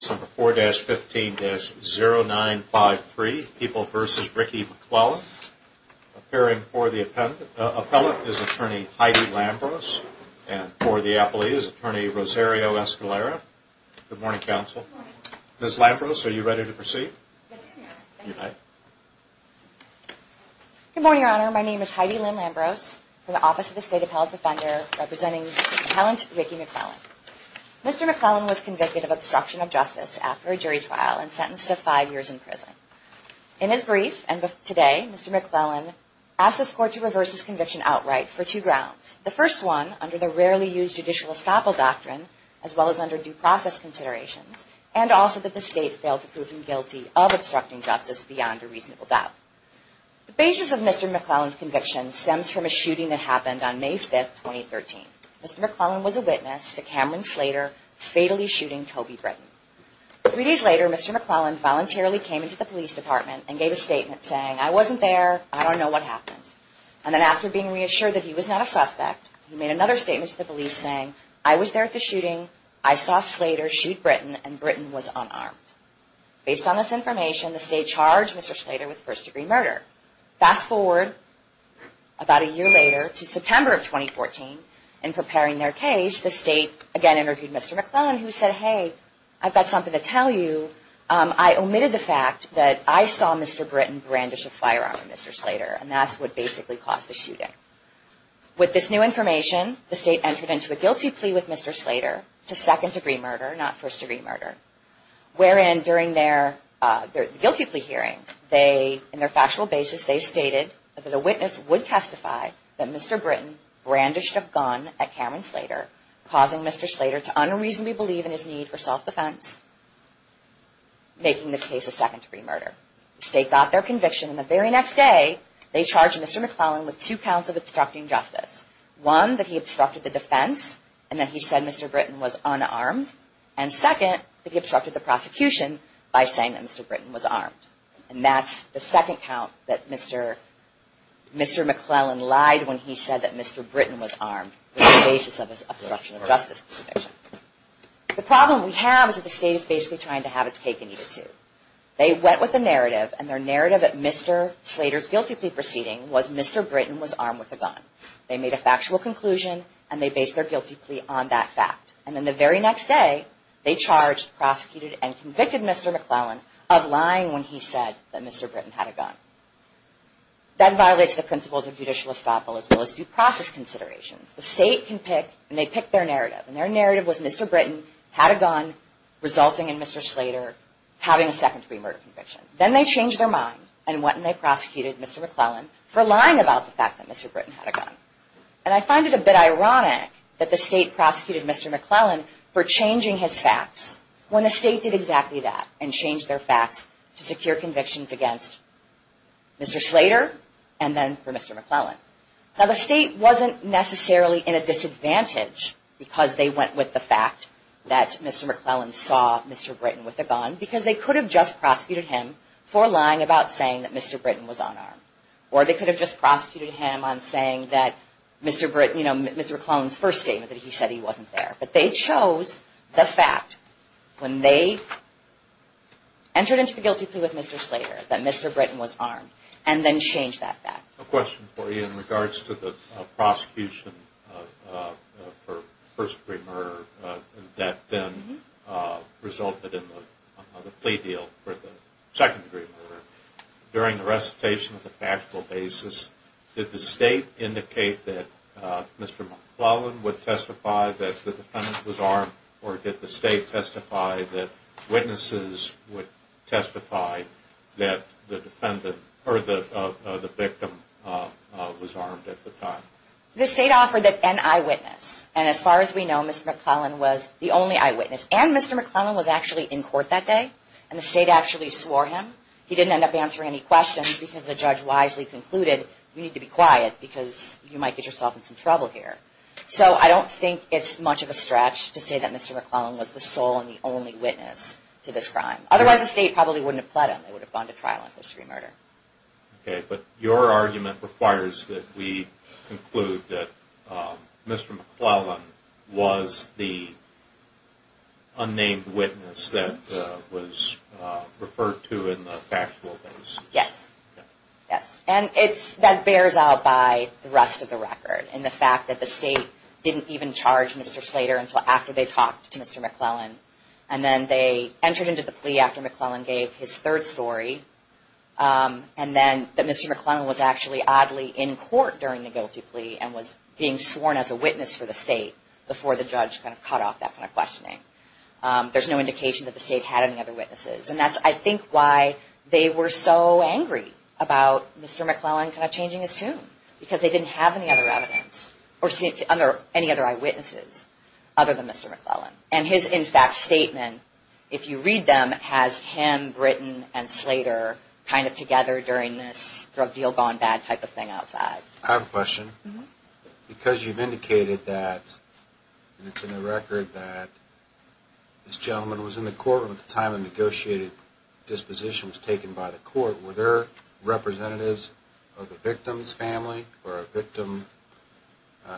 4-15-0953, People v. Ricky McClellan. Appearing for the appellate is attorney Heidi Lambros, and for the appellee is attorney Rosario Escalera. Good morning, counsel. Good morning. Ms. Lambros, are you ready to proceed? Yes, I am, Your Honor. You may. Good morning, Your Honor. My name is Heidi Lynn Lambros from the Office of the State Appellate Defender, representing Mr. McClellan to Ricky McClellan. Mr. McClellan was convicted of obstruction of justice after a jury trial and sentenced to five years in prison. In his brief, and today, Mr. McClellan asked this court to reverse his conviction outright for two grounds. The first one, under the rarely used judicial estoppel doctrine, as well as under due process considerations, and also that the state failed to prove him guilty of obstructing justice beyond a reasonable doubt. The basis of Mr. McClellan's conviction stems from a shooting that happened on May 5, 2013. Mr. McClellan was a witness to Cameron Slater fatally shooting Toby Britton. Three days later, Mr. McClellan voluntarily came into the police department and gave a statement saying, I wasn't there, I don't know what happened. And then after being reassured that he was not a suspect, he made another statement to the police saying, I was there at the shooting, I saw Slater shoot Britton, and Britton was unarmed. Based on this information, the state charged Mr. Slater with first-degree murder. Fast forward about a year later to September of 2014, in preparing their case, the state again interviewed Mr. McClellan, who said, hey, I've got something to tell you. I omitted the fact that I saw Mr. Britton brandish a firearm at Mr. Slater, and that's what basically caused the shooting. With this new information, the state entered into a guilty plea with Mr. Slater to second-degree murder, not first-degree murder, wherein during their guilty plea hearing, in their factual basis, they stated that a witness would testify that Mr. Britton brandished a gun at Cameron Slater, causing Mr. Slater to unreasonably believe in his need for self-defense, making this case a second-degree murder. The state got their conviction, and the very next day, they charged Mr. McClellan with two counts of obstructing justice. One, that he obstructed the defense, and that he said Mr. Britton was unarmed, and second, that he obstructed the prosecution by saying that Mr. Britton was armed. And that's the second count that Mr. McClellan lied when he said that Mr. Britton was armed with the basis of his obstruction of justice conviction. The problem we have is that the state is basically trying to have its cake and eat it, too. They went with the narrative, and their narrative at Mr. Slater's guilty plea proceeding was Mr. Britton was armed with a gun. They made a factual conclusion, and they based their guilty plea on that fact. And then the very next day, they charged, prosecuted, and convicted Mr. McClellan of lying when he said that Mr. Britton had a gun. That violates the principles of judicial estoppel as well as due process considerations. The state can pick, and they pick their narrative. And their narrative was Mr. Britton had a gun, resulting in Mr. Slater having a second-degree murder conviction. Then they changed their mind, and went and they prosecuted Mr. McClellan for lying about the fact that Mr. Britton had a gun. And I find it a bit ironic that the state prosecuted Mr. McClellan for changing his facts when the state did exactly that and changed their facts to secure convictions against Mr. Slater and then for Mr. McClellan. Now the state wasn't necessarily in a disadvantage because they went with the fact that Mr. McClellan saw Mr. Britton with a gun because they could have just prosecuted him for lying about saying that Mr. Britton was unarmed. Or they could have just prosecuted him on saying that Mr. McClellan's first statement that he said he wasn't there. But they chose the fact when they entered into the guilty plea with Mr. Slater that Mr. Britton was armed and then changed that fact. A question for you in regards to the prosecution for first-degree murder that then resulted in the plea deal for the second-degree murder. During the recitation of the factual basis, did the state indicate that Mr. McClellan would testify that the defendant was armed or did the state testify that witnesses would testify that the victim was armed at the time? The state offered an eyewitness. And as far as we know, Mr. McClellan was the only eyewitness. And Mr. McClellan was actually in court that day and the state actually swore him. He didn't end up answering any questions because the judge wisely concluded, we need to be quiet because you might get yourself in some trouble here. So I don't think it's much of a stretch to say that Mr. McClellan was the sole and the only witness to this crime. Otherwise, the state probably wouldn't have pled him. They would have gone to trial on first-degree murder. Okay, but your argument requires that we conclude that Mr. McClellan was the unnamed witness that was referred to in the factual basis. Yes. Yes. And that bears out by the rest of the record and the fact that the state didn't even charge Mr. Slater until after they talked to Mr. McClellan. And then they entered into the plea after McClellan gave his third story and then that Mr. McClellan was actually oddly in court during the guilty plea and was being sworn as a witness for the state before the judge kind of cut off that kind of questioning. There's no indication that the state had any other witnesses. And that's, I think, why they were so angry about Mr. McClellan kind of changing his tune because they didn't have any other evidence or any other eyewitnesses other than Mr. McClellan. And his, in fact, statement, if you read them, has him, Britton, and Slater kind of together during this drug deal gone bad type of thing outside. I have a question. Because you've indicated that, and it's in the record, that this gentleman was in the courtroom at the time the negotiated disposition was taken by the court. Were there representatives of the victim's family or a victim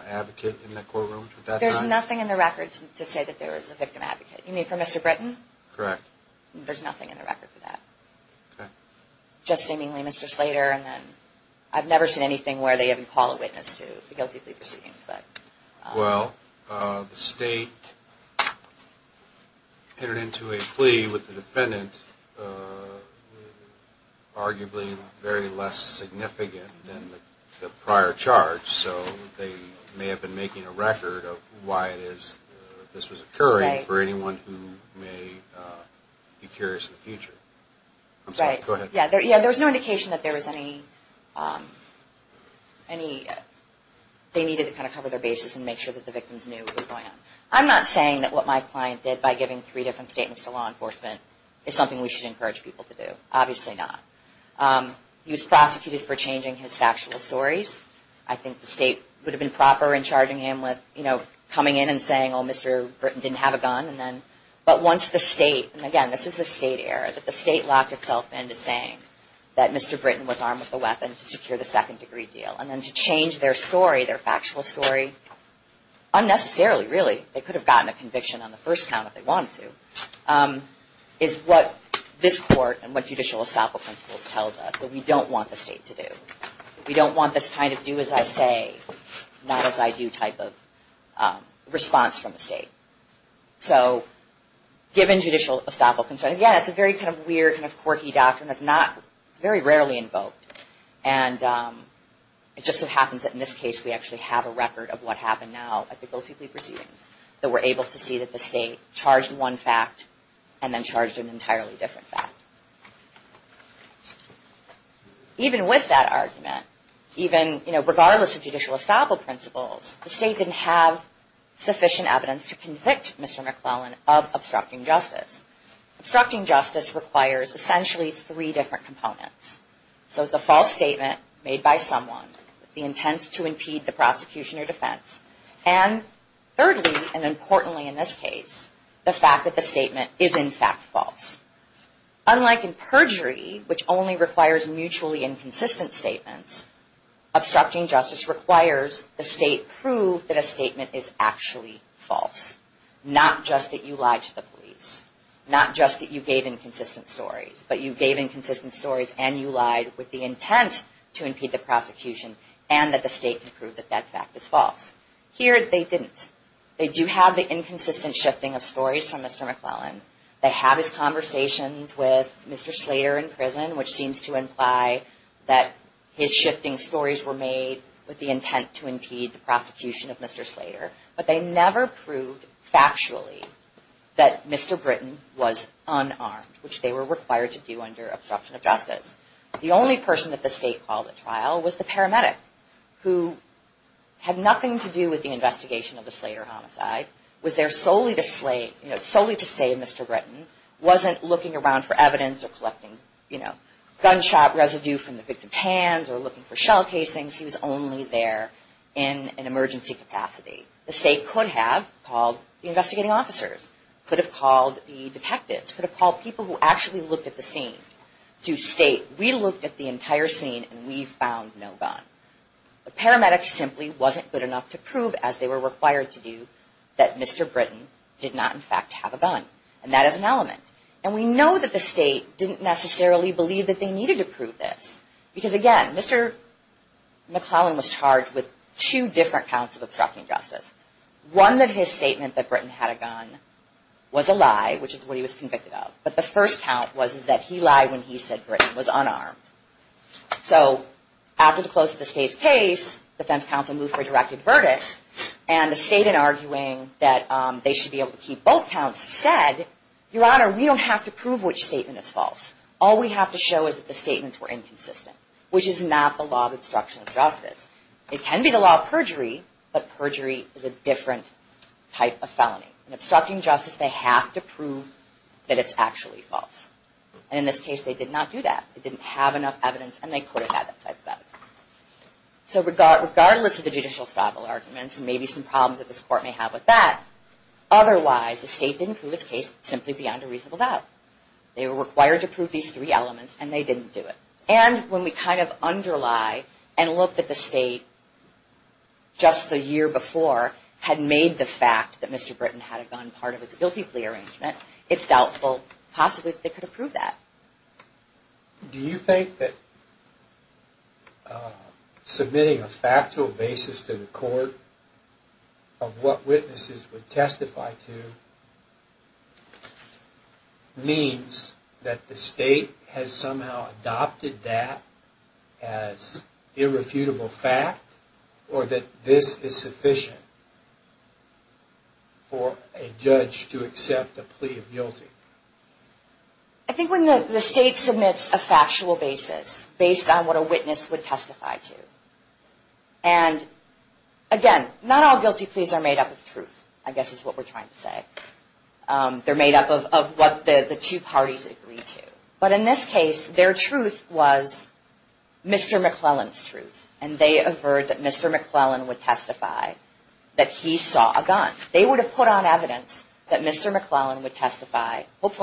advocate in that courtroom at that time? There's nothing in the record to say that there was a victim advocate. You mean for Mr. Britton? Correct. There's nothing in the record for that. Okay. Just seemingly Mr. Slater and then I've never seen anything where they even call a witness to the guilty plea proceedings. Well, the state entered into a plea with the defendant arguably very less significant than the prior charge. So they may have been making a record of why this was occurring for anyone who may be curious in the future. I'm sorry. Go ahead. Yeah, there was no indication that there was any, they needed to kind of cover their bases and make sure that the victims knew what was going on. I'm not saying that what my client did by giving three different statements to law enforcement is something we should encourage people to do. Obviously not. He was prosecuted for changing his factual stories. I think the state would have been proper in charging him with coming in and saying, oh, Mr. Britton didn't have a gun. But once the state, and again, this is a state error, that the state locked itself in to saying that Mr. Britton was armed with a weapon to secure the second degree deal and then to change their story, their factual story unnecessarily really. They could have gotten a conviction on the first count if they wanted to, is what this court and what judicial estoppel principles tells us that we don't want the state to do. We don't want this kind of do as I say not as I do type of response from the state. So given judicial estoppel principles, again, it's a very kind of weird, kind of quirky doctrine that's not very rarely invoked. And it just so happens that in this case we actually have a record of what happened now at the guilty plea proceedings that we're able to see that the state charged one fact and then charged an entirely different fact. Even with that argument, even regardless of judicial estoppel principles, the state didn't have sufficient evidence to convict Mr. McClellan of obstructing justice. Obstructing justice requires essentially three different components. So it's a false statement made by someone with the intent to impede the prosecution or defense, and thirdly and importantly in this case, the fact that the statement is in fact false. Unlike in perjury, which only requires mutually inconsistent statements, obstructing justice requires the state prove that a statement is actually false, not just that you lied to the police, not just that you gave inconsistent stories, but you gave inconsistent stories and you lied with the intent to impede the prosecution and that the state can prove that that fact is false. Here they didn't. They do have the inconsistent shifting of stories from Mr. McClellan. They have his conversations with Mr. Slater in prison, which seems to imply that his shifting stories were made with the intent to impede the prosecution of Mr. Slater, but they never proved factually that Mr. Britton was unarmed, which they were required to do under obstruction of justice. The only person that the state called at trial was the paramedic, who had nothing to do with the investigation of the Slater homicide, was there solely to save Mr. Britton, wasn't looking around for evidence or collecting gunshot residue from the victim's hands or looking for shell casings. He was only there in an emergency capacity. The state could have called the investigating officers, could have called the detectives, could have called people who actually looked at the scene to state, we looked at the entire scene and we found no gun. The paramedic simply wasn't good enough to prove, as they were required to do, that Mr. Britton did not in fact have a gun. And that is an element. And we know that the state didn't necessarily believe that they needed to prove this. Because, again, Mr. McClellan was charged with two different counts of obstruction of justice. One that his statement that Britton had a gun was a lie, which is what he was convicted of. But the first count was that he lied when he said Britton was unarmed. So after the close of the state's case, defense counsel moved for a direct avertis, and the state, in arguing that they should be able to keep both counts, said, Your Honor, we don't have to prove which statement is false. All we have to show is that the statements were inconsistent, which is not the law of obstruction of justice. It can be the law of perjury, but perjury is a different type of felony. In obstructing justice, they have to prove that it's actually false. And in this case, they did not do that. So regardless of the judicial stoppable arguments, and maybe some problems that this court may have with that, otherwise the state didn't prove its case simply beyond a reasonable doubt. They were required to prove these three elements, and they didn't do it. And when we kind of underlie and look that the state, just the year before, had made the fact that Mr. Britton had a gun part of its guilty plea arrangement, it's doubtful possibly that they could have proved that. Do you think that submitting a factual basis to the court of what witnesses would testify to means that the state has somehow adopted that as irrefutable fact, or that this is sufficient for a judge to accept a plea of guilty? I think when the state submits a factual basis based on what a witness would testify to, and again, not all guilty pleas are made up of truth, I guess is what we're trying to say. They're made up of what the two parties agree to. But in this case, their truth was Mr. McClellan's truth, and they averred that Mr. McClellan would testify that he saw a gun. They would have put on evidence that Mr. McClellan would testify. If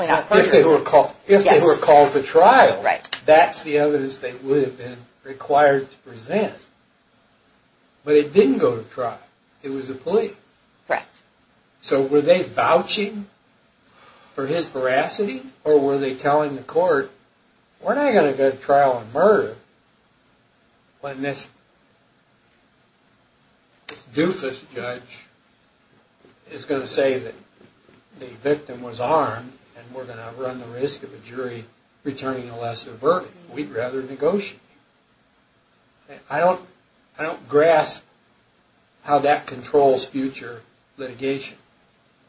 they were called to trial, that's the evidence they would have been required to present. But it didn't go to trial. It was a plea. Correct. So were they vouching for his veracity, or were they telling the court, we're not going to go to trial and murder when this doofus judge is going to say that the victim was armed and we're going to run the risk of a jury returning a lesser verdict. We'd rather negotiate. I don't grasp how that controls future litigation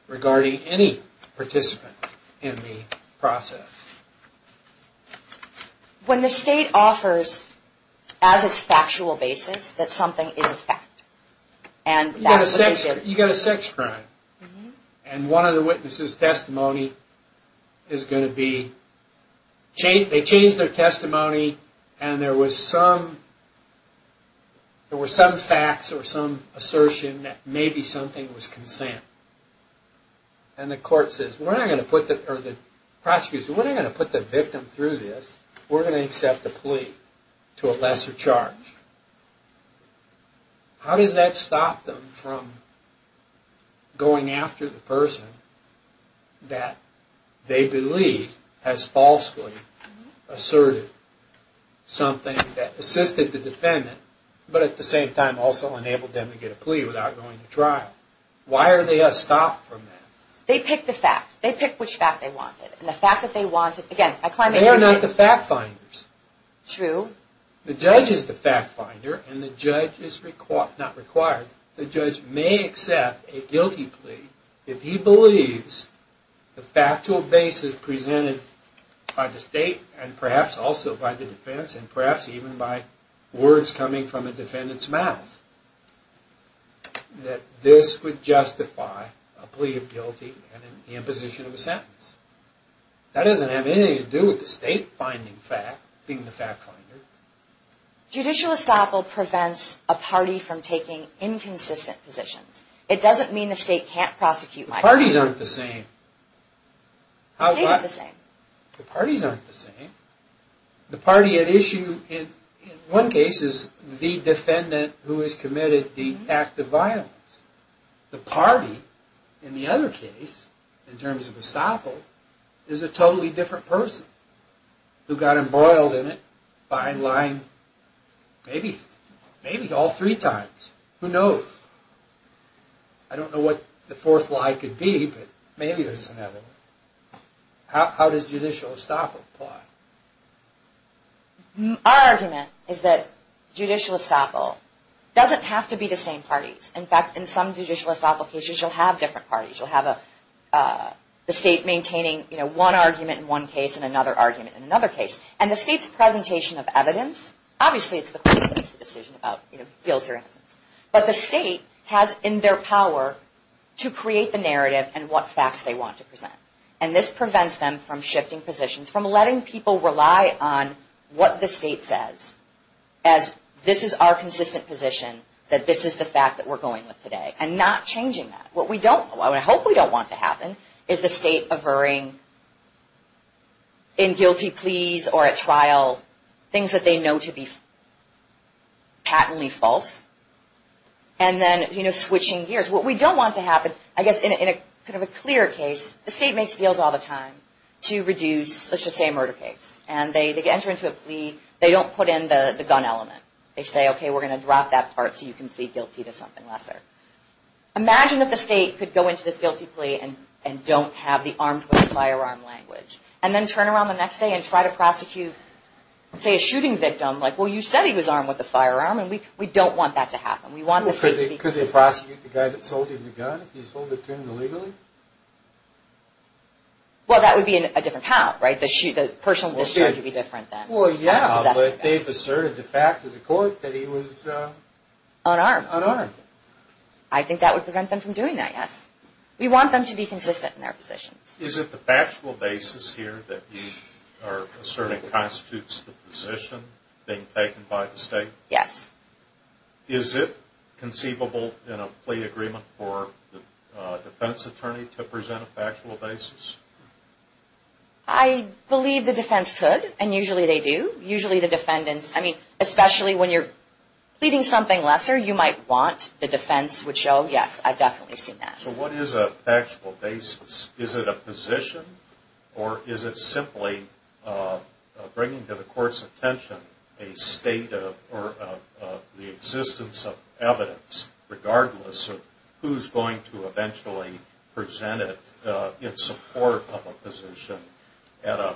regarding any participant in the process. When the state offers as its factual basis that something is a fact, and that's what they did. You've got a sex crime, and one of the witnesses' testimony is going to be, they changed their testimony, and there were some facts or some assertion that maybe something was consent. And the prosecution says, we're not going to put the victim through this. We're going to accept the plea to a lesser charge. How does that stop them from going after the person that they believe has falsely asserted something that assisted the defendant, but at the same time also enabled them to get a plea without going to trial? Why are they stopped from that? They pick the fact. They pick which fact they wanted. And the fact that they wanted, again, I climb into this. They are not the fact finders. True. The judge is the fact finder, and the judge is, not required, the judge may accept a guilty plea if he believes the factual basis presented by the state, and perhaps also by the defense, and perhaps even by words coming from a defendant's mouth, that this would justify a plea of guilty and an imposition of a sentence. That doesn't have anything to do with the state finding fact, being the fact finder. Judicial estoppel prevents a party from taking inconsistent positions. It doesn't mean the state can't prosecute. The parties aren't the same. The state is the same. The parties aren't the same. The party at issue in one case is the defendant who has committed the act of violence. The party in the other case, in terms of estoppel, is a totally different person who got embroiled in it, behind lines, maybe all three times. Who knows? I don't know what the fourth lie could be, but maybe there's another one. How does judicial estoppel apply? Our argument is that judicial estoppel doesn't have to be the same parties. In fact, in some judicial estoppel cases, you'll have different parties. You'll have the state maintaining one argument in one case and another argument in another case. The state's presentation of evidence, obviously it's the court's decision about guilt or innocence, but the state has in their power to create the narrative and what facts they want to present. This prevents them from shifting positions, from letting people rely on what the state says as this is our consistent position, that this is the fact that we're going with today, and not changing that. What we don't want, what I hope we don't want to happen, is the state averring in guilty pleas or at trial things that they know to be patently false, and then switching gears. What we don't want to happen, I guess in a clear case, the state makes deals all the time to reduce, let's just say, a murder case. They enter into a plea, they don't put in the gun element. They say, okay, we're going to drop that part so you can plead guilty to something lesser. Imagine if the state could go into this guilty plea and don't have the armed with a firearm language, and then turn around the next day and try to prosecute, say, a shooting victim. Like, well, you said he was armed with a firearm, and we don't want that to happen. We want the state to be guilty. Could they prosecute the guy that sold him the gun if he sold it to him illegally? Well, that would be a different how, right? The person would be different than possessing the gun. Well, yeah, but they've asserted the fact to the court that he was... Unarmed. Unarmed. I think that would prevent them from doing that, yes. We want them to be consistent in their positions. Is it the factual basis here that you are asserting constitutes the position being taken by the state? Yes. Is it conceivable in a plea agreement for the defense attorney to present a factual basis? I believe the defense could, and usually they do. Usually the defendants, I mean, especially when you're pleading something lesser, you might want the defense would show, yes, I've definitely seen that. So what is a factual basis? Is it a position, or is it simply bringing to the court's attention a state of, or the existence of evidence regardless of who's going to eventually present it in support of a position? At a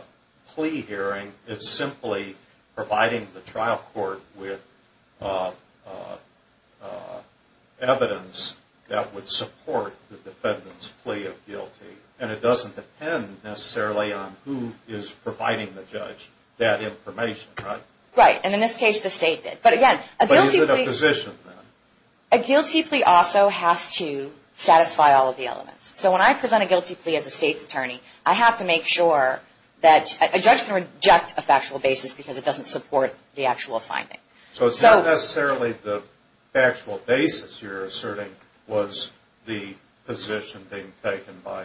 plea hearing, it's simply providing the trial court with evidence that would support the defendant's plea of guilty, and it doesn't depend necessarily on who is providing the judge that information, right? Right, and in this case, the state did. But again, a guilty plea... But is it a position, then? A guilty plea also has to satisfy all of the elements. So when I present a guilty plea as a state's attorney, I have to make sure that a judge can reject a factual basis because it doesn't support the actual finding. So it's not necessarily the factual basis you're asserting was the position being taken by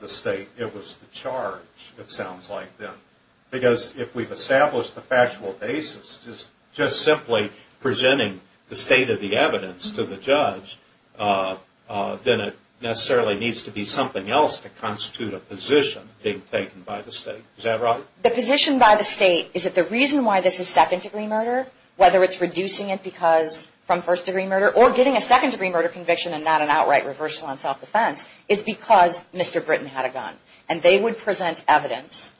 the state. It was the charge, it sounds like, then. Because if we've established the factual basis, just simply presenting the state of the evidence to the judge, then it necessarily needs to be something else to constitute a position being taken by the state. Is that right? The position by the state is that the reason why this is second-degree murder, whether it's reducing it from first-degree murder, or getting a second-degree murder conviction and not an outright reversal on self-defense, is because Mr. Britton had a gun, and they would present evidence.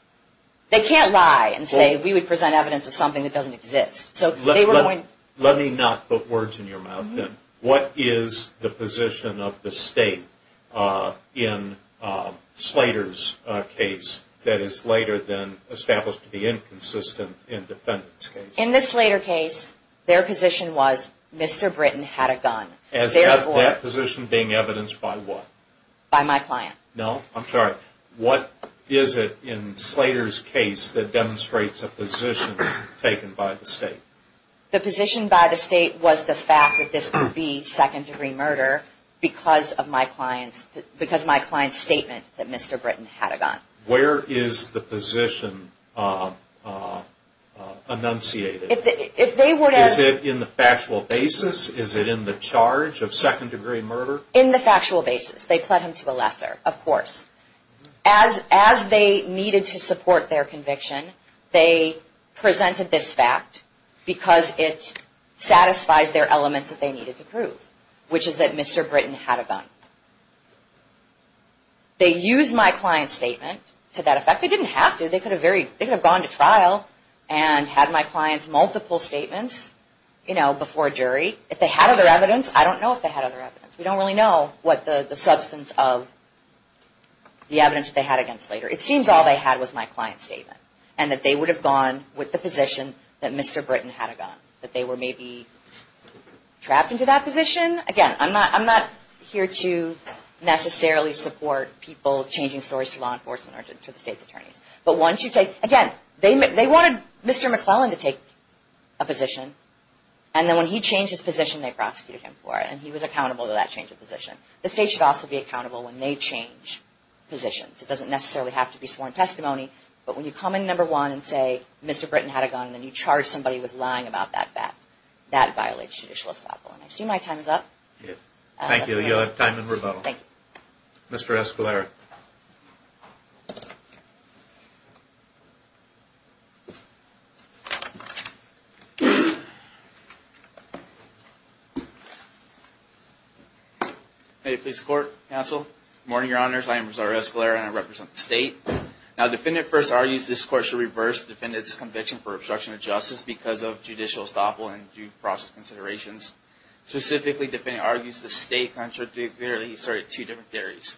They can't lie and say we would present evidence of something that doesn't exist. Let me not put words in your mouth, then. What is the position of the state in Slater's case that is later then established to be inconsistent in Defendant's case? In the Slater case, their position was Mr. Britton had a gun. Is that position being evidenced by what? By my client. No, I'm sorry. What is it in Slater's case that demonstrates a position taken by the state? The position by the state was the fact that this could be second-degree murder because of my client's statement that Mr. Britton had a gun. Where is the position enunciated? Is it in the factual basis? Is it in the charge of second-degree murder? In the factual basis. They pled him to a lesser, of course. As they needed to support their conviction, they presented this fact because it satisfies their elements that they needed to prove, which is that Mr. Britton had a gun. They used my client's statement to that effect. They didn't have to. They could have gone to trial and had my client's multiple statements before a jury. If they had other evidence, I don't know if they had other evidence. We don't really know what the substance of the evidence that they had against Slater. It seems all they had was my client's statement and that they would have gone with the position that Mr. Britton had a gun, that they were maybe trapped into that position. Again, I'm not here to necessarily support people changing stories to law enforcement or to the state's attorneys. Again, they wanted Mr. McClellan to take a position. And then when he changed his position, they prosecuted him for it. And he was accountable to that change of position. The state should also be accountable when they change positions. It doesn't necessarily have to be sworn testimony. But when you come in, number one, and say Mr. Britton had a gun, and then you charge somebody with lying about that fact, that violates judicial estoppel. I see my time is up. Thank you. You'll have time in rebuttal. Thank you. Mr. Escalera. Hey, police court, counsel. Good morning, your honors. I am Rosario Escalera, and I represent the state. Now, defendant first argues this court should reverse the defendant's conviction for obstruction of justice because of judicial estoppel and due process considerations. Specifically, the defendant argues the state contradictorily asserted two different theories.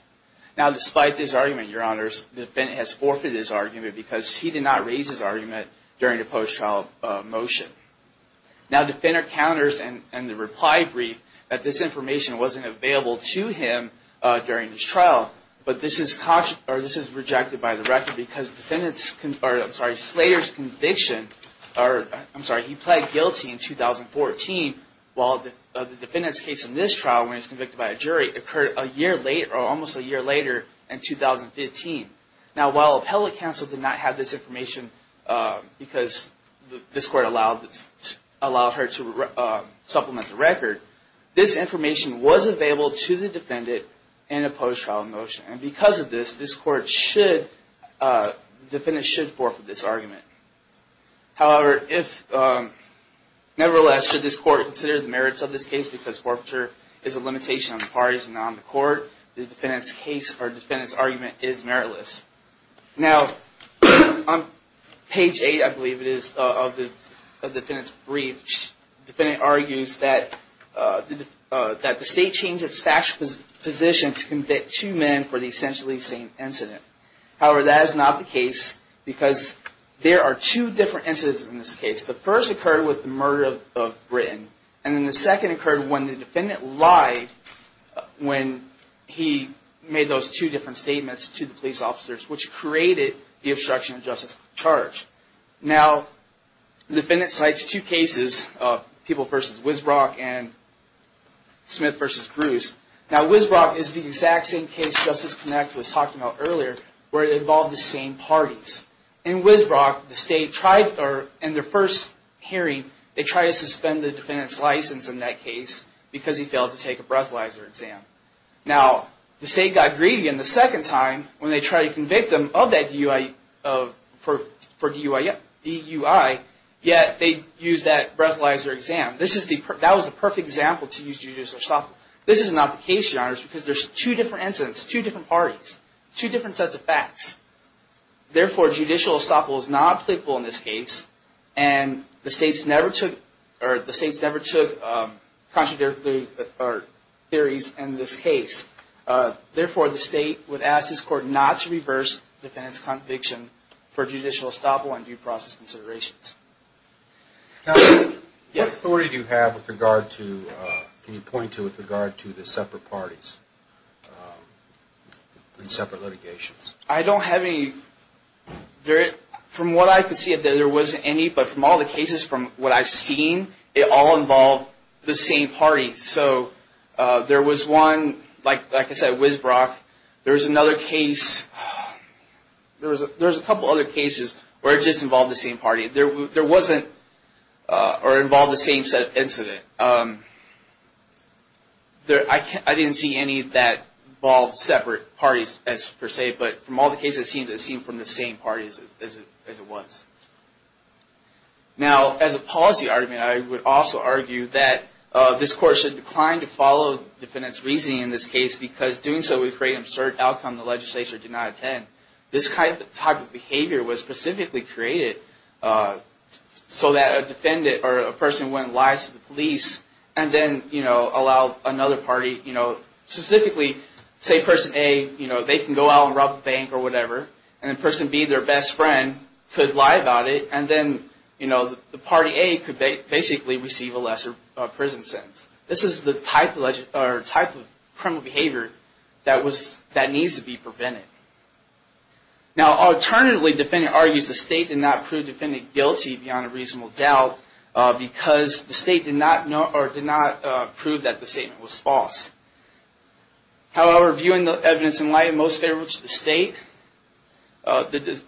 Now, despite this argument, your honors, the defendant has forfeited his argument because he did not raise his argument during the post-trial motion. Now, the defendant counters in the reply brief that this information wasn't available to him during his trial. But this is rejected by the record because the defendant's, or I'm sorry, Slater's conviction, or I'm sorry, he pled guilty in 2014, while the defendant's case in this trial, when he was convicted by a jury, occurred a year later, or almost a year later, in 2015. Now, while appellate counsel did not have this information because this court allowed her to supplement the record, this information was available to the defendant in a post-trial motion. And because of this, this court should, the defendant should forfeit this argument. However, if, nevertheless, should this court consider the merits of this case, because forfeiture is a limitation on the parties and not on the court, the defendant's case or defendant's argument is meritless. Now, on page 8, I believe it is, of the defendant's brief, the defendant argues that the state changed its factual position to convict two men for the essentially same incident. However, that is not the case because there are two different incidents in this case. The first occurred with the murder of Britton, and then the second occurred when the defendant lied when he made those two different statements to the police officers, which created the obstruction of justice charge. Now, the defendant cites two cases, People v. Wisbrock and Smith v. Bruce. Now, Wisbrock is the exact same case Justice Connect was talking about earlier, where it involved the same parties. In Wisbrock, the state tried, or in their first hearing, they tried to suspend the defendant's license in that case because he failed to take a breathalyzer exam. Now, the state got greedy, and the second time, when they tried to convict him of that DUI, yet they used that breathalyzer exam. This is the, that was the perfect example to use Judice Arstotke. This is not the case, Your Honors, because there's two different incidents, two different parties, two different sets of facts. Therefore, Judicial Arstotke was not pliable in this case, and the states never took, or the states never took contradictory theories in this case. Therefore, the state would ask this court not to reverse the defendant's conviction for Judicial Arstotke on due process considerations. Now, what authority do you have with regard to, can you point to, with regard to the separate parties in separate litigations? I don't have any, from what I can see, there wasn't any, but from all the cases, from what I've seen, it all involved the same parties. So, there was one, like I said, Wisbrock. There was another case, there was a couple other cases where it just involved the same party. There wasn't, or involved the same set of incidents. I didn't see any that involved separate parties, per se, but from all the cases, it seemed from the same parties as it was. Now, as a policy argument, I would also argue that this court should decline to follow defendant's reasoning in this case, because doing so would create an absurd outcome the legislature did not intend. This type of behavior was specifically created so that a defendant, or a person who went live to the police, and then, you know, allowed another party, you know, specifically, say person A, you know, they can go out and rob a bank or whatever, and then person B, their best friend, could lie about it, and then, you know, the party A could basically receive a lesser prison sentence. This is the type of criminal behavior that needs to be prevented. Now, alternatively, the defendant argues the state did not prove defendant guilty beyond a reasonable doubt, because the state did not prove that the statement was false. However, viewing the evidence in light, most favorable to the state, the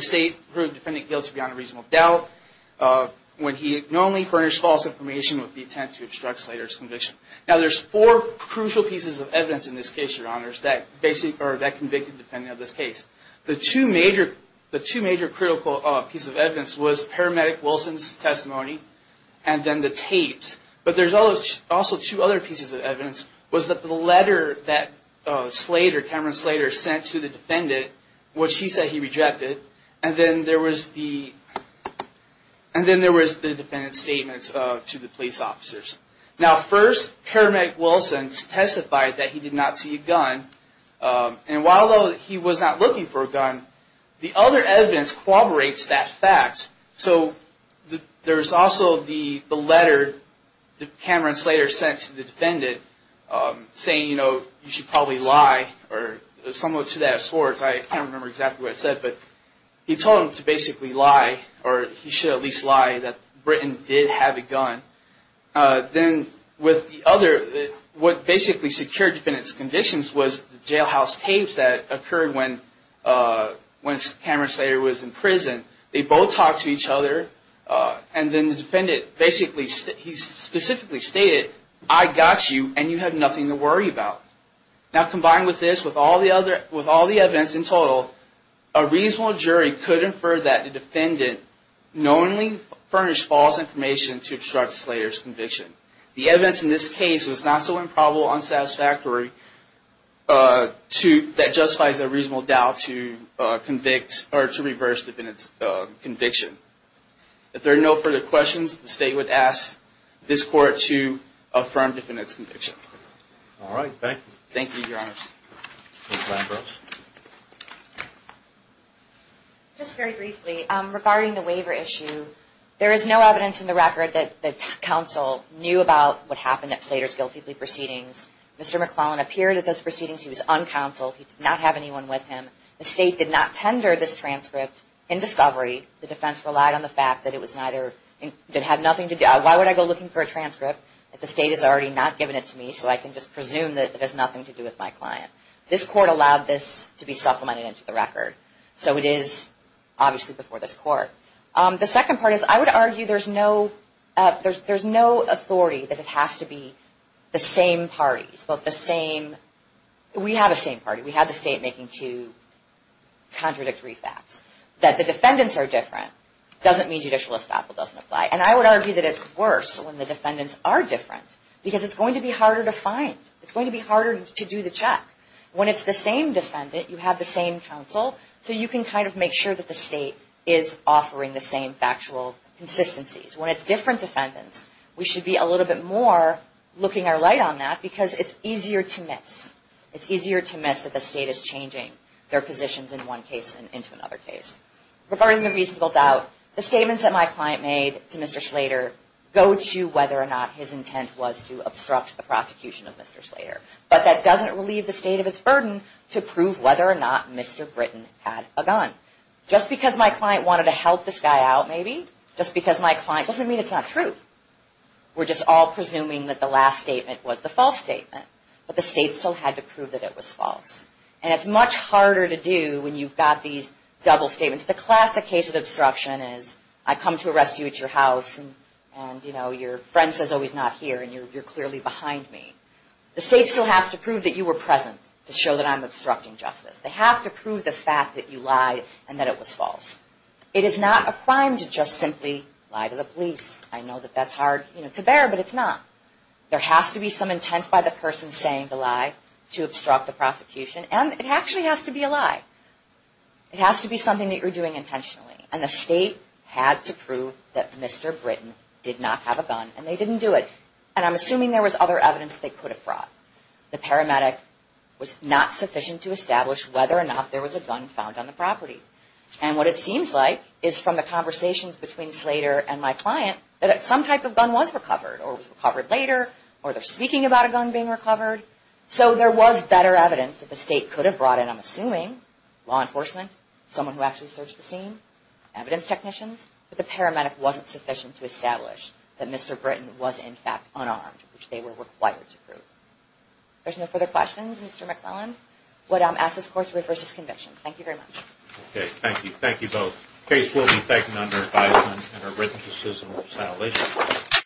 state proved defendant guilty beyond a reasonable doubt when he normally furnished false information with the intent to obstruct Slater's conviction. Now, there's four crucial pieces of evidence in this case, Your Honors, that convicted the defendant of this case. The two major critical pieces of evidence was paramedic Wilson's testimony, and then the tapes. But there's also two other pieces of evidence, was that the letter that Cameron Slater sent to the defendant, which he said he rejected, and then there was the defendant's statements to the police officers. Now, first, paramedic Wilson testified that he did not see a gun, and while he was not looking for a gun, the other evidence corroborates that fact. So there's also the letter that Cameron Slater sent to the defendant, saying, you know, you should probably lie, or somewhat to that extent. I can't remember exactly what it said, but he told him to basically lie, or he should at least lie that Britton did have a gun. Then with the other, what basically secured the defendant's convictions was the jailhouse tapes that occurred when Cameron Slater was in prison. They both talked to each other, and then the defendant basically, he specifically stated, I got you, and you have nothing to worry about. Now, combined with this, with all the other, with all the evidence in total, a reasonable jury could infer that the defendant knowingly furnished false information to obstruct Slater's conviction. The evidence in this case was not so improbable, unsatisfactory, that justifies a reasonable doubt to convict, or to reverse the defendant's conviction. If there are no further questions, the State would ask this Court to affirm the defendant's conviction. All right, thank you. Thank you, Your Honors. Ms. Lambros. Just very briefly, regarding the waiver issue, there is no evidence in the record that counsel knew about what happened at Slater's guilty plea proceedings. Mr. McClellan appeared at those proceedings. He was uncounseled. He did not have anyone with him. The State did not tender this transcript in discovery. The defense relied on the fact that it had nothing to do, why would I go looking for a transcript if the State has already not given it to me, so I can just presume that it has nothing to do with my client. This Court allowed this to be supplemented into the record, so it is obviously before this Court. The second part is, I would argue there's no authority that it has to be the same parties, both the same, we have a same party. We have the State making two contradictory facts. That the defendants are different doesn't mean judicial estoppel doesn't apply. And I would argue that it's worse when the defendants are different, because it's going to be harder to find. It's going to be harder to do the check. When it's the same defendant, you have the same counsel, so you can kind of make sure that the State is offering the same factual consistencies. When it's different defendants, we should be a little bit more looking our light on that, because it's easier to miss. It's easier to miss that the State is changing their positions in one case into another case. Regarding the reasonable doubt, the statements that my client made to Mr. Slater go to whether or not his intent was to obstruct the prosecution of Mr. Slater. But that doesn't relieve the State of its burden to prove whether or not Mr. Britton had a gun. Just because my client wanted to help this guy out, maybe, just because my client, doesn't mean it's not true. We're just all presuming that the last statement was the false statement. But the State still had to prove that it was false. And it's much harder to do when you've got these double statements. The classic case of obstruction is, I come to arrest you at your house, and your friend says, oh, he's not here, and you're clearly behind me. The State still has to prove that you were present to show that I'm obstructing justice. They have to prove the fact that you lied and that it was false. It is not a crime to just simply lie to the police. I know that that's hard to bear, but it's not. There has to be some intent by the person saying the lie to obstruct the prosecution. And it actually has to be a lie. It has to be something that you're doing intentionally. And the State had to prove that Mr. Britton did not have a gun, and they didn't do it. And I'm assuming there was other evidence they could have brought. The paramedic was not sufficient to establish whether or not there was a gun found on the property. And what it seems like is, from the conversations between Slater and my client, that some type of gun was recovered, or was recovered later, or they're speaking about a gun being recovered. So there was better evidence that the State could have brought in, I'm assuming, law enforcement, someone who actually searched the scene, evidence technicians. But the paramedic wasn't sufficient to establish that Mr. Britton was, in fact, unarmed, which they were required to prove. If there's no further questions, Mr. McClellan, I would ask this Court to reverse this conviction. Thank you very much. Okay, thank you. Thank you both. The case will be taken under advisement, and are written to citizenship. Thank you.